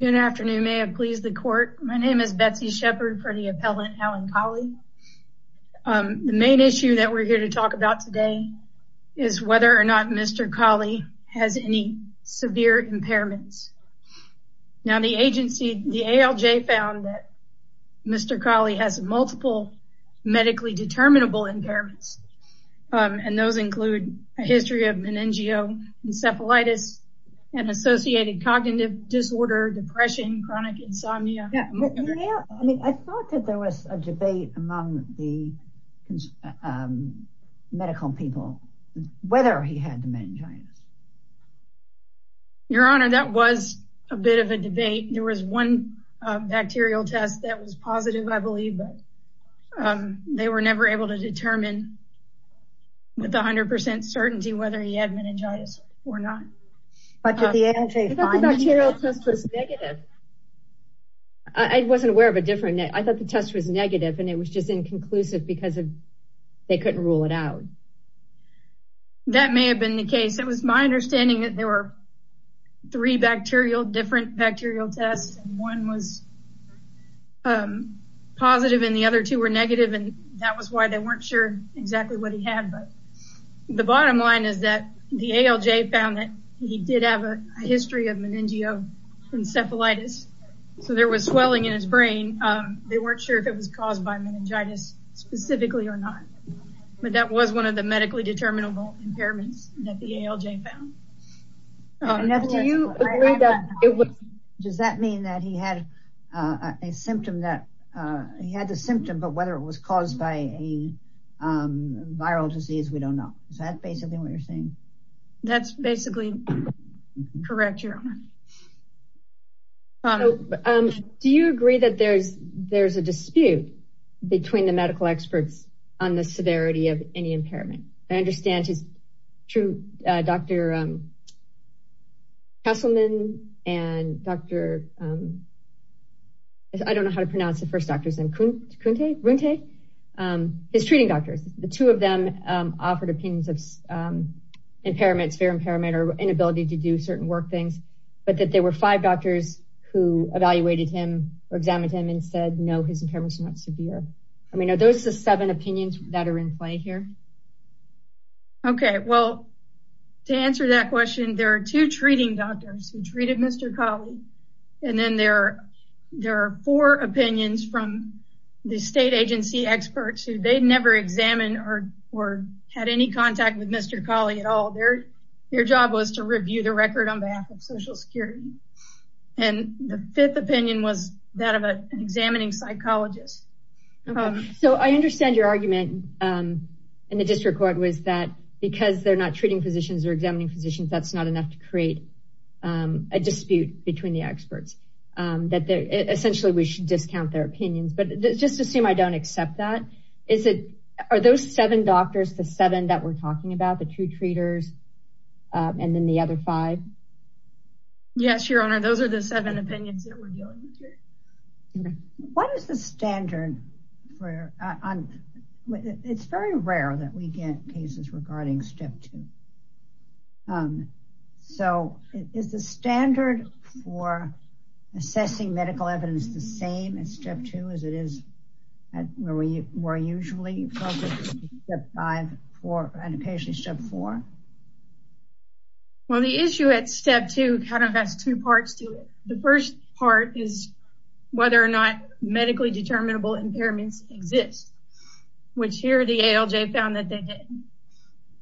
Good afternoon. May it please the court. My name is Betsy Shepard for the appellant, Alan Collie. The main issue that we're here to talk about today is whether or not Mr. Collie has any severe impairments. Now the agency, the ALJ, found that Mr. Collie has multiple medically determinable impairments, and those include a history of meningeal encephalitis and associated cognitive disorder, depression, chronic insomnia. Yeah, I mean, I thought that there was a debate among the medical people whether he had meningitis. Your Honor, that was a bit of a debate. There was one bacterial test that was positive, I believe, but they were never able to determine with 100% certainty whether he had meningitis or not. But did the ALJ find it? I thought the bacterial test was negative. I wasn't aware of a different, I thought the test was negative and it was just inconclusive because they couldn't rule it out. That may have been the case. It was my understanding that there were three different bacterial tests and one was positive and the other two were negative and that was why they weren't sure exactly what he had, but the bottom line is that the ALJ found that he did have a history of meningeal encephalitis, so there was swelling in his brain. They weren't sure if it was caused by meningitis specifically or not, but that was one of the medically determinable impairments that the ALJ found. Now, do you agree that it was, does that mean that he had a symptom that, he had the symptom, but whether it was caused by a viral disease, we don't know. Is that basically what you're saying? That's basically correct. Do you agree that there's a dispute between the medical experts on the severity of any impairment? I understand his true, Dr. Castleman and Dr., I don't know how to pronounce the first doctor's name, Kunte, is treating doctors. The two of them offered opinions of impairments, severe impairment or inability to do certain work things, but that there were five doctors who evaluated him or examined him and said no, his impairments are not severe. I mean, are those the seven opinions that are in play here? Okay, well, to answer that question, there are two treating doctors who treated Mr. Kali and then there are four opinions from the or had any contact with Mr. Kali at all. Their job was to review the record on behalf of Social Security. And the fifth opinion was that of an examining psychologist. So I understand your argument in the district court was that because they're not treating physicians or examining physicians, that's not enough to create a dispute between the experts. That essentially we should discount their opinions, but just assume I don't accept that. Is it, are those seven doctors, the seven that we're talking about, the two treaters and then the other five? Yes, your honor. Those are the seven opinions that we're dealing with here. What is the standard for, it's very rare that we get cases regarding step two. So is the standard for assessing medical evidence the same as step two as it is where we were usually focused on step five and occasionally step four? Well, the issue at step two kind of has two parts to it. The first part is whether or not medically determinable impairments exist, which here the ALJ found that they did.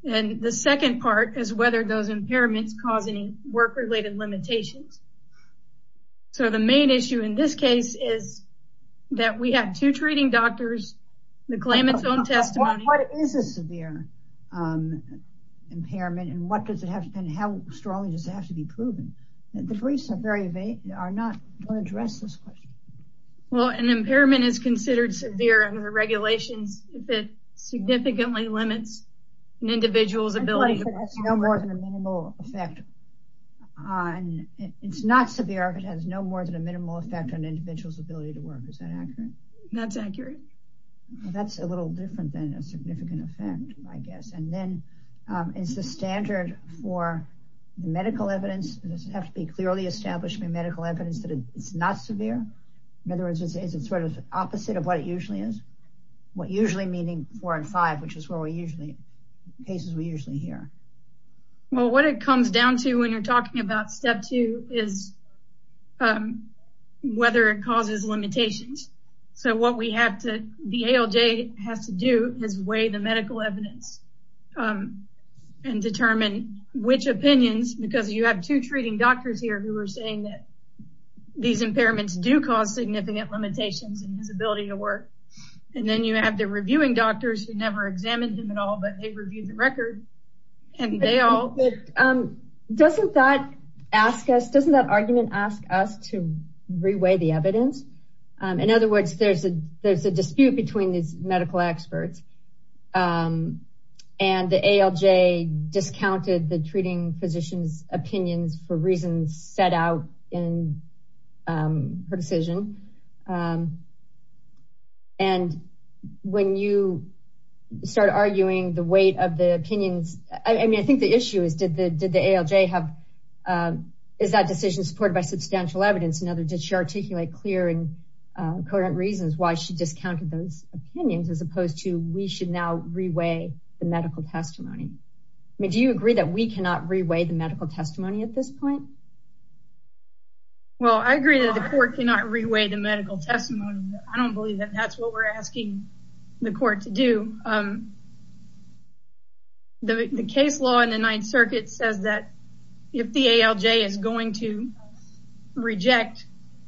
And the second part is whether those impairments cause any work-related limitations. So the main issue in this case is that we have two treating doctors that claim it's own testimony. What is a severe impairment and how strong does it have to be proven? The briefs are not, don't address this question. Well, an impairment is considered severe under regulations that significantly limits an individual's ability to... It has no more than a minimal effect on, it's not severe, but it has no more than a minimal effect on an individual's ability to work. Is that accurate? That's accurate. That's a little different than a significant effect, I guess. And then it's the standard for the medical evidence. It has to be clearly established by medical evidence that it's not severe. In other words, is it sort of opposite of what it usually is? What usually meaning four and five, which is where we usually, cases we usually hear? Well, what it comes down to when you're talking about step two is whether it causes limitations. So what we have to, the ALJ has to do is weigh the medical evidence and determine which opinions, because you have two treating doctors here who are saying that these impairments do cause significant limitations in his ability to work, but they've reviewed the record and they all... Doesn't that ask us, doesn't that argument ask us to reweigh the evidence? In other words, there's a dispute between these medical experts and the ALJ discounted the treating physician's reasons set out in her decision. And when you start arguing the weight of the opinions, I mean, I think the issue is, did the ALJ have, is that decision supported by substantial evidence in other, did she articulate clear and coherent reasons why she discounted those opinions as opposed to we should now reweigh the medical testimony? Do you agree that we cannot reweigh the medical testimony at this point? Well, I agree that the court cannot reweigh the medical testimony. I don't believe that that's what we're asking the court to do. The case law in the Ninth Circuit says that if the ALJ is going to reject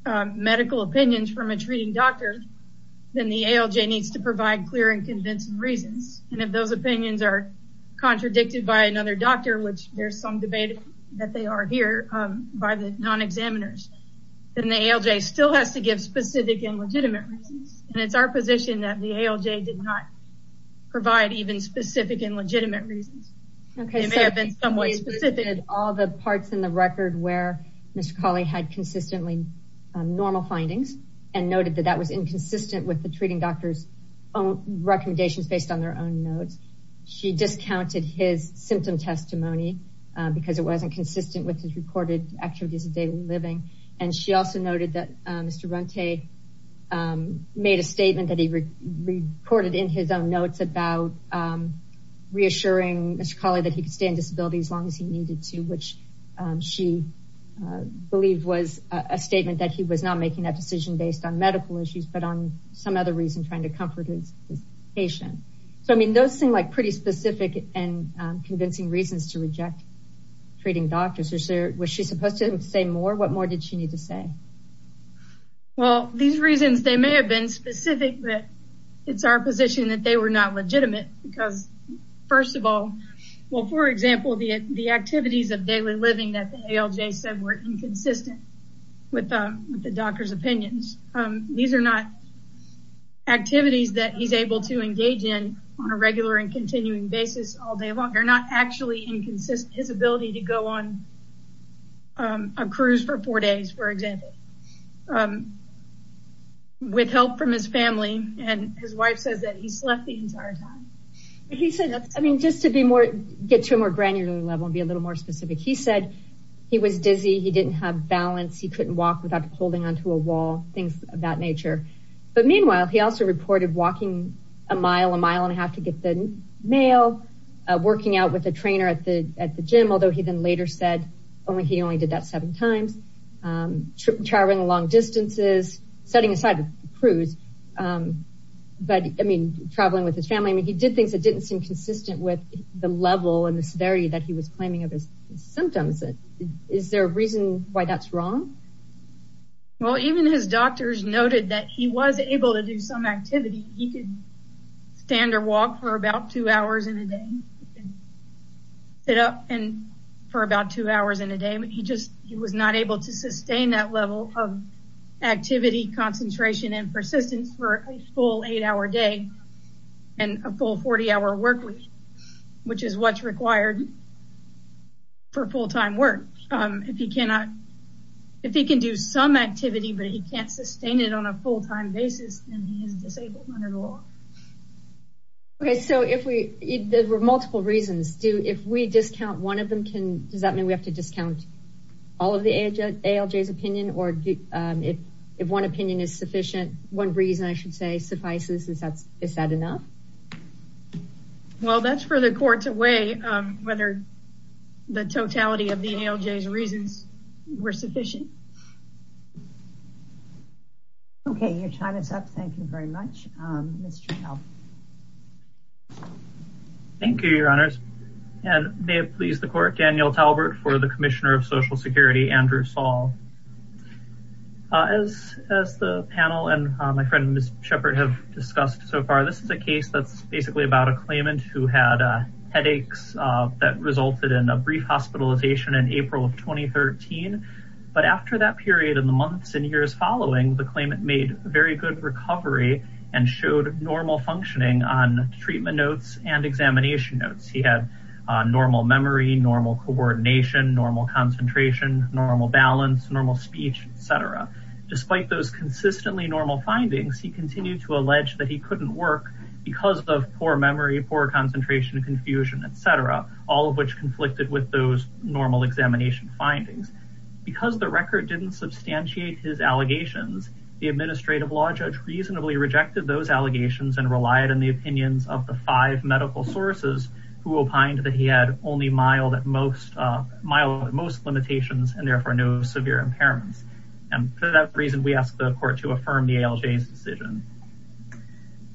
medical opinions from a treating doctor, then the ALJ needs to provide clear and convincing reasons. And if those opinions are contradicted by another doctor, which there's some debate that they are here by the non-examiners, then the ALJ still has to give specific and legitimate reasons. And it's our position that the ALJ did not provide even specific and legitimate reasons. It may have been somewhat specific. Okay, so she included all the parts in the record where Mr. Cawley had consistently normal findings and noted that that was inconsistent with the recommendations based on their own notes. She discounted his symptom testimony because it wasn't consistent with his recorded activities of daily living. And she also noted that Mr. Runte made a statement that he recorded in his own notes about reassuring Mr. Cawley that he could stay in disability as long as he needed to, which she believed was a statement that he was not making that decision based on medical issues, but on some other reason, trying to comfort his patient. So, I mean, those seem like pretty specific and convincing reasons to reject treating doctors. Was she supposed to say more? What more did she need to say? Well, these reasons, they may have been specific, but it's our position that they were not legitimate because, first of all, well, for example, the activities of daily living that the ALJ said were inconsistent with the doctor's opinions. These are not activities that he's able to engage in on a regular and continuing basis all day long. They're not actually inconsistent. His ability to go on a cruise for four days, for example, with help from his family, and his wife says that he slept the entire time. He said, I mean, just to get to a more granular level and be a little more specific, he said he was dizzy, he didn't have balance, he couldn't walk without holding onto a wall, things of that nature. But meanwhile, he also reported walking a mile, a mile and a half to get the mail, working out with a trainer at the gym, although he then later said he only did that seven times, traveling long distances, setting aside the cruise, but, I mean, traveling with his family. I mean, he did things that didn't seem consistent with the level and the severity that he was claiming of his symptoms. Is there a reason why that's wrong? Well, even his doctors noted that he was able to do some activity. He could stand or walk for about two hours in a day, sit up for about two hours in a day, but he was not able to sustain that level of activity, concentration, and persistence for a full eight-hour day and a full 40-hour work week, which is what's required for full-time work. If he cannot, if he can do some activity, but he can't sustain it on a full-time basis, then he is disabled under the law. Okay, so if we, there were multiple reasons. Do, if we discount one of them, can, does that mean we have to discount all of the ALJ's opinion, or if one opinion is sufficient, one reason, I should say, suffices, is that, is that enough? Well, that's for the court to weigh whether the totality of the ALJ's reasons were sufficient. Okay, your time is up. Thank you very much. Mr. Howell. Thank you, your honors, and may it please the court, Daniel Talbert for the Commissioner of Shepard have discussed so far. This is a case that's basically about a claimant who had headaches that resulted in a brief hospitalization in April of 2013, but after that period in the months and years following, the claimant made very good recovery and showed normal functioning on treatment notes and examination notes. He had normal memory, normal coordination, normal concentration, normal balance, normal speech, etc. Despite those alleged that he couldn't work because of poor memory, poor concentration, confusion, etc., all of which conflicted with those normal examination findings. Because the record didn't substantiate his allegations, the administrative law judge reasonably rejected those allegations and relied on the opinions of the five medical sources who opined that he had only mild at most, mild at most limitations and therefore no severe impairments. And for that reason, we ask the court to affirm the ALJ's decision.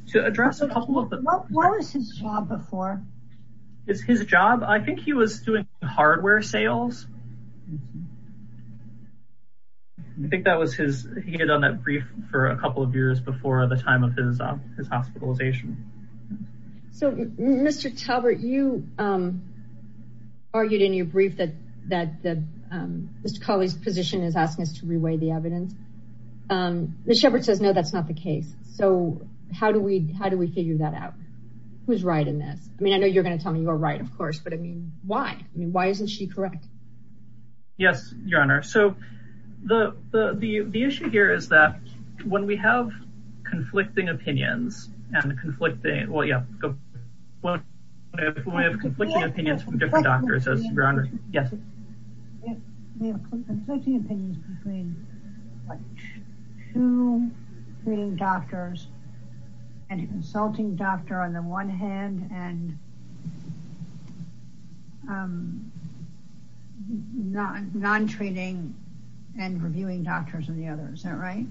To address a couple of the- What was his job before? His job? I think he was doing hardware sales. I think that was his, he had done that brief for a couple of years before the time of his hospitalization. So, Mr. Talbert, you argued in your brief that Mr. Cawley's position is asking us to reweigh the evidence. Ms. Sheppard says, no, that's not the case. So, how do we figure that out? Who's right in this? I mean, I know you're going to tell me you're right, of course, but I mean, why? I mean, why isn't she correct? Yes, Your Honor. So, the issue here is that when we have conflicting opinions and conflicting, well, yeah, when we have conflicting opinions from different doctors, yes. We have conflicting opinions between two treating doctors and a consulting doctor on the one hand and non-treating and reviewing doctors on the other. Is that right?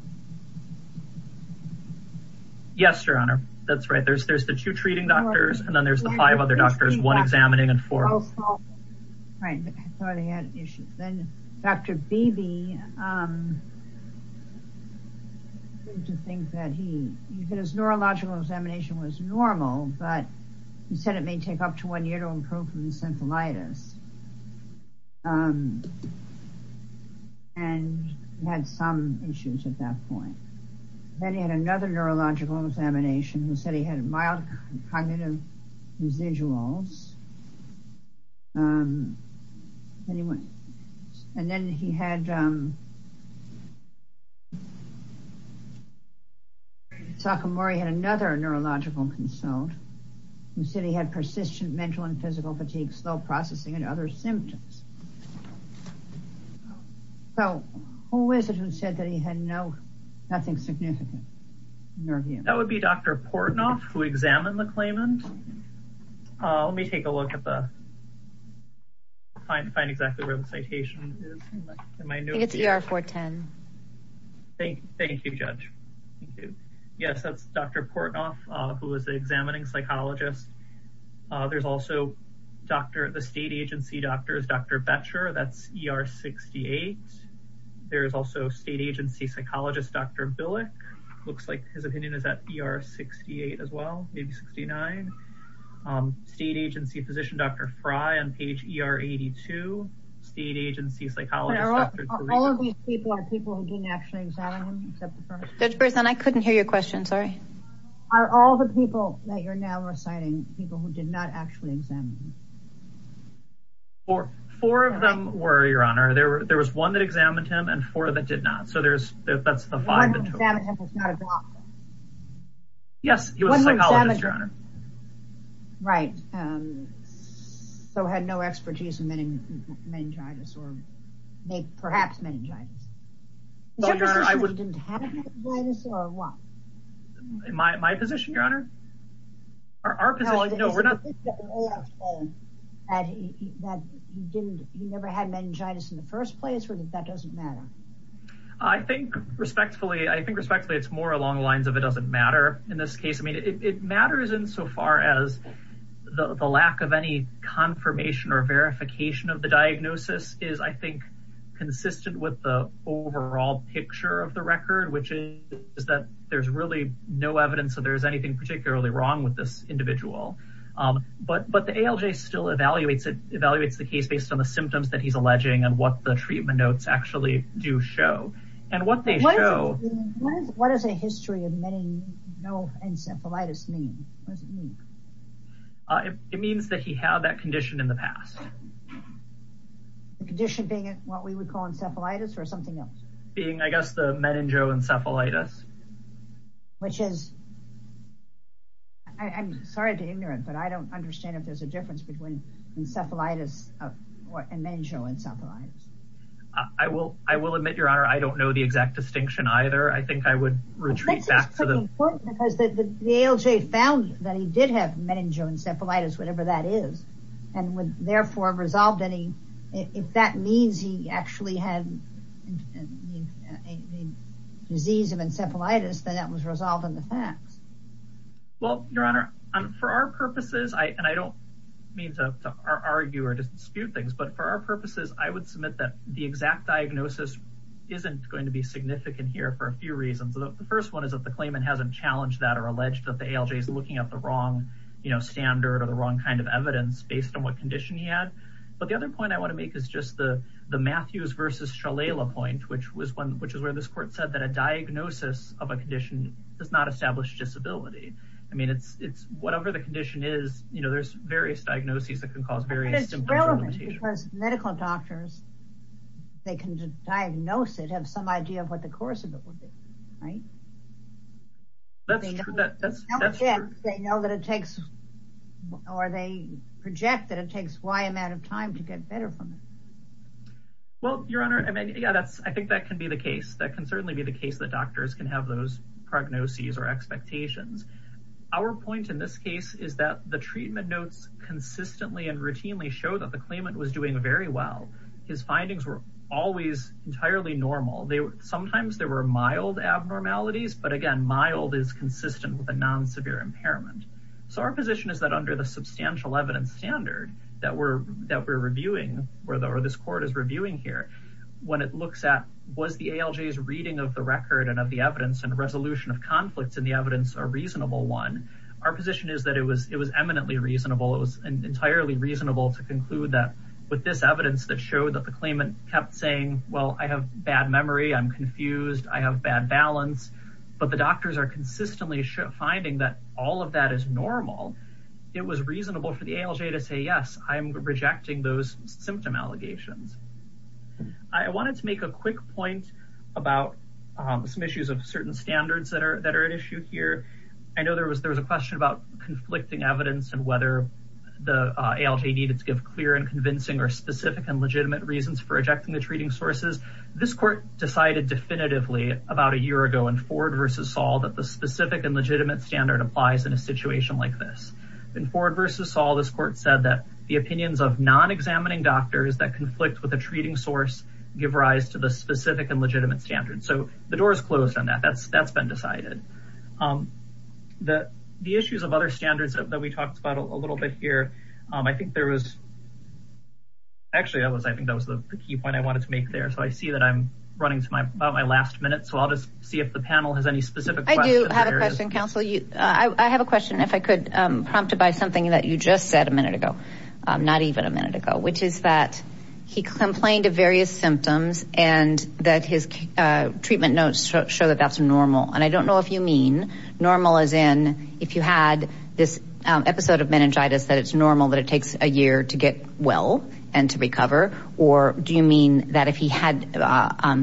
Yes, Your Honor. That's right. There's the two treating doctors and then there's the five other doctors, one examining and four- Right. I thought he had an issue. Then, Dr. Beebe, I think that he, his neurological examination was normal, but he said it may take up to one point. Then he had another neurological examination who said he had mild cognitive residuals. And then he had, Sakamori had another neurological consult, who said he had persistent mental and physical fatigue, slow processing and other symptoms. So, who is it who said that he had no, nothing significant? That would be Dr. Portnoff, who examined the claimant. Let me take a look at the, find exactly where the citation is. I think it's ER 410. Thank you, Judge. Yes, that's Dr. Portnoff, who was the examining psychologist. There's also Dr., the state agency doctor is Dr. Boettcher, that's ER 68. There's also state agency psychologist, Dr. Billick, looks like his opinion is at ER 68 as well, maybe 69. State agency physician, Dr. Frye on page ER 82, state agency psychologist- All of these people are people who didn't actually examine him, except the first- Judge Berzon, I couldn't hear your question, are all the people that you're now reciting, people who did not actually examine him? Four of them were, Your Honor. There was one that examined him and four that did not. So, that's the five- One that examined him was not a doctor? Yes, he was a psychologist, Your Honor. Right. So, had no expertise in meningitis or perhaps meningitis. Is your position that he didn't have meningitis or what? My position, Your Honor? Our position, no, we're not- Is it that he never had meningitis in the first place or that that doesn't matter? I think respectfully, I think respectfully, it's more along the lines of it doesn't matter in this case. I mean, it matters in so far as the lack of any confirmation or verification of diagnosis is, I think, consistent with the overall picture of the record, which is that there's really no evidence that there's anything particularly wrong with this individual. But the ALJ still evaluates it, evaluates the case based on the symptoms that he's alleging and what the treatment notes actually do show and what they show- What does a history of no encephalitis mean? What does it mean? It means that he had that condition in the past. The condition being what we would call encephalitis or something else? Being, I guess, the meningoencephalitis. Which is- I'm sorry to be ignorant, but I don't understand if there's a difference between encephalitis and meningoencephalitis. I will admit, Your Honor, I don't know the exact distinction either. I think I would retreat back to the- I think it's pretty important because the ALJ found that he did have meningoencephalitis, whatever that is, and would therefore have resolved any- If that means he actually had a disease of encephalitis, then that was resolved in the facts. Well, Your Honor, for our purposes, and I don't mean to argue or dispute things, but for our purposes, I would submit that the exact diagnosis isn't going to be significant here for a few reasons. The first one is that the claimant hasn't challenged that or alleged that the ALJ is looking at the wrong standard or the wrong kind of evidence based on what condition he had. But the other point I want to make is just the Matthews versus Shalala point, which was where this court said that a diagnosis of a condition does not establish disability. I mean, it's whatever the condition is, there's various diagnoses that can cause various- But it's relevant because medical doctors, they can diagnose it, have some idea of what course of it would be, right? That's true, that's true. They know that it takes, or they project that it takes a wide amount of time to get better from it. Well, Your Honor, I mean, yeah, that's, I think that can be the case. That can certainly be the case that doctors can have those prognoses or expectations. Our point in this case is that the treatment notes consistently and routinely show that the claimant was doing very well. His findings were always entirely normal. Sometimes there were mild abnormalities, but again, mild is consistent with a non-severe impairment. So our position is that under the substantial evidence standard that we're reviewing, or this court is reviewing here, when it looks at was the ALJ's reading of the record and of the evidence and resolution of conflicts in the evidence a reasonable one, our position is that it was eminently reasonable. It was entirely reasonable to conclude that with this evidence that showed that the claimant kept saying, well, I have bad memory, I'm confused, I have bad balance, but the doctors are consistently finding that all of that is normal. It was reasonable for the ALJ to say, yes, I'm rejecting those symptom allegations. I wanted to make a quick point about some issues of certain standards that are, that are at issue here. I know there was, there was a question about the ALJ needed to give clear and convincing or specific and legitimate reasons for rejecting the treating sources. This court decided definitively about a year ago in Ford versus Saul that the specific and legitimate standard applies in a situation like this. In Ford versus Saul, this court said that the opinions of non-examining doctors that conflict with a treating source give rise to the specific and legitimate standard. So the door is closed on that. That's been decided. The, the issues of other standards that we talked about a little bit here. I think there was actually, I was, I think that was the key point I wanted to make there. So I see that I'm running to my, about my last minute. So I'll just see if the panel has any specific questions. I do have a question counsel. I have a question if I could, prompted by something that you just said a minute ago, not even a minute ago, which is that he complained of various symptoms and that his treatment notes show that that's normal. And I don't know if you mean normal as in, if you had this episode of meningitis that it's normal that it takes a year to get well and to recover, or do you mean that if he had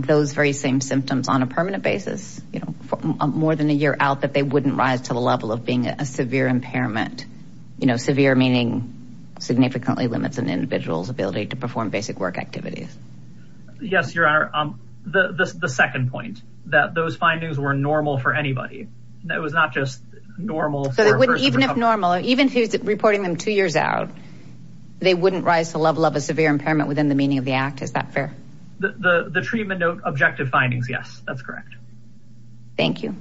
those very same symptoms on a permanent basis, you know, for more than a year out that they wouldn't rise to the level of being a severe impairment, you know, severe meaning significantly limits an individual's ability to perform basic work activities? Yes, your honor. The, the, the second point that those findings were normal for anybody that was not just normal. So it wouldn't, even if normal, even if he was reporting them two years out, they wouldn't rise to the level of a severe impairment within the meaning of the act. Is that fair? The, the, the treatment note objective findings. Yes, that's correct. Thank you.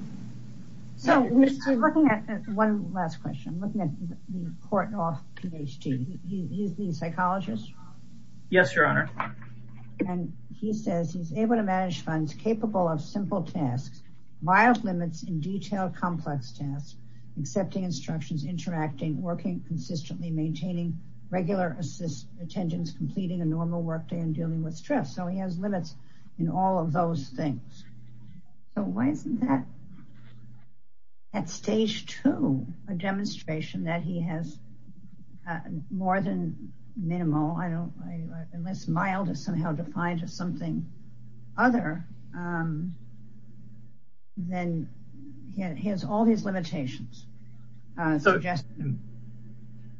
So looking at one last question, looking at the court off PhD, he's the psychologist. Yes, your honor. And he says he's able to manage funds capable of simple tasks, mild limits in detail, complex tasks, accepting instructions, interacting, working consistently, maintaining regular assist, attendance, completing a normal work day and dealing with stress. So he at stage two, a demonstration that he has more than minimal, I don't, unless mild is somehow defined as something other than he has all these limitations.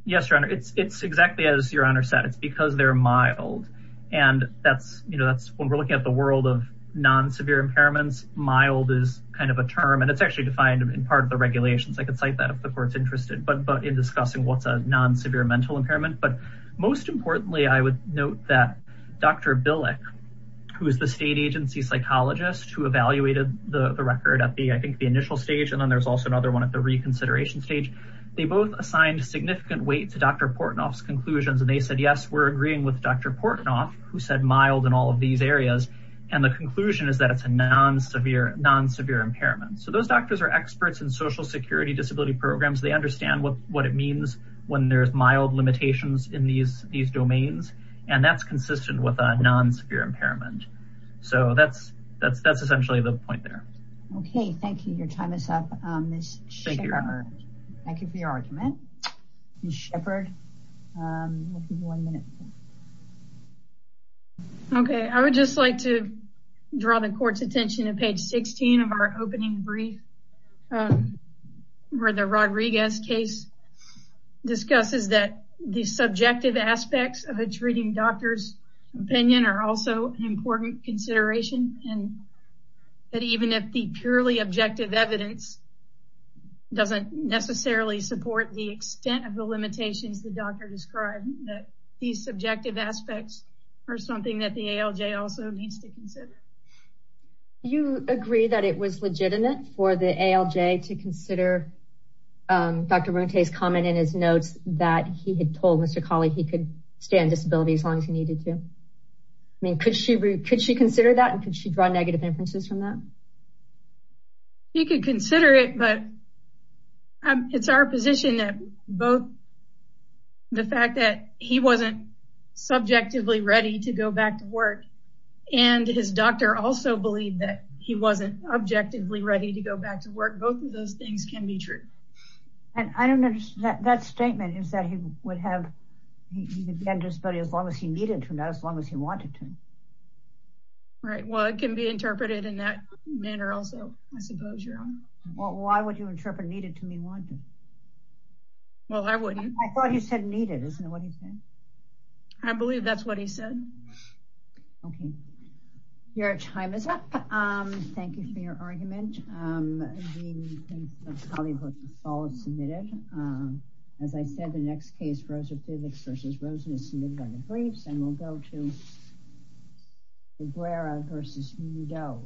Yes, your honor. It's, it's exactly as your honor said, it's because they're mild. And that's, you know, that's when we're looking at the world of non-severe impairments, mild is kind of a term and it's actually defined in part of the regulations. I could cite that if the court's interested, but, but in discussing what's a non-severe mental impairment, but most importantly, I would note that Dr. Billick, who is the state agency psychologist who evaluated the record at the, I think the initial stage. And then there's also another one at the reconsideration stage. They both assigned significant weight to Dr. Portnoff's conclusions. And they said, yes, we're agreeing with Dr. Portnoff who said mild and all of these areas. And the conclusion is that it's a non-severe, non-severe impairment. So those doctors are experts in social security disability programs. They understand what, what it means when there's mild limitations in these, these domains, and that's consistent with a non-severe impairment. So that's, that's, that's essentially the point there. Okay. Thank you. Your time is up. Okay. I would just like to draw the court's attention to page 16 of our opening brief where the Rodriguez case discusses that the subjective aspects of a treating doctor's opinion are also an important consideration. And that even if the purely objective evidence doesn't necessarily support the extent of the limitations, the doctor described that these subjective aspects are something that the ALJ also needs to consider. You agree that it was legitimate for the ALJ to consider Dr. Ronte's comment in his notes that he had told Mr. Colley he could stay on disability as long as he needed to. I mean, could she, could she consider that? And could she draw negative inferences from that? You could consider it, but it's our position that both the fact that he wasn't subjectively ready to go back to work and his doctor also believed that he wasn't objectively ready to go back to work. Both of those things can be true. And I don't understand that statement is that he would have, he would be on disability as long as he needed to, not as long as he wanted to. Right. Well, it can be interpreted in that manner also, I suppose. Well, why would you interpret needed to mean wanted? Well, I wouldn't. I thought you said needed, isn't it? What do you think? I believe that's what he said. Okay. Your time is up. Thank you for your argument. As I said, the next case Rosa Pivicks versus Rosen is submitted by the briefs and we'll go to Aguero versus Udo.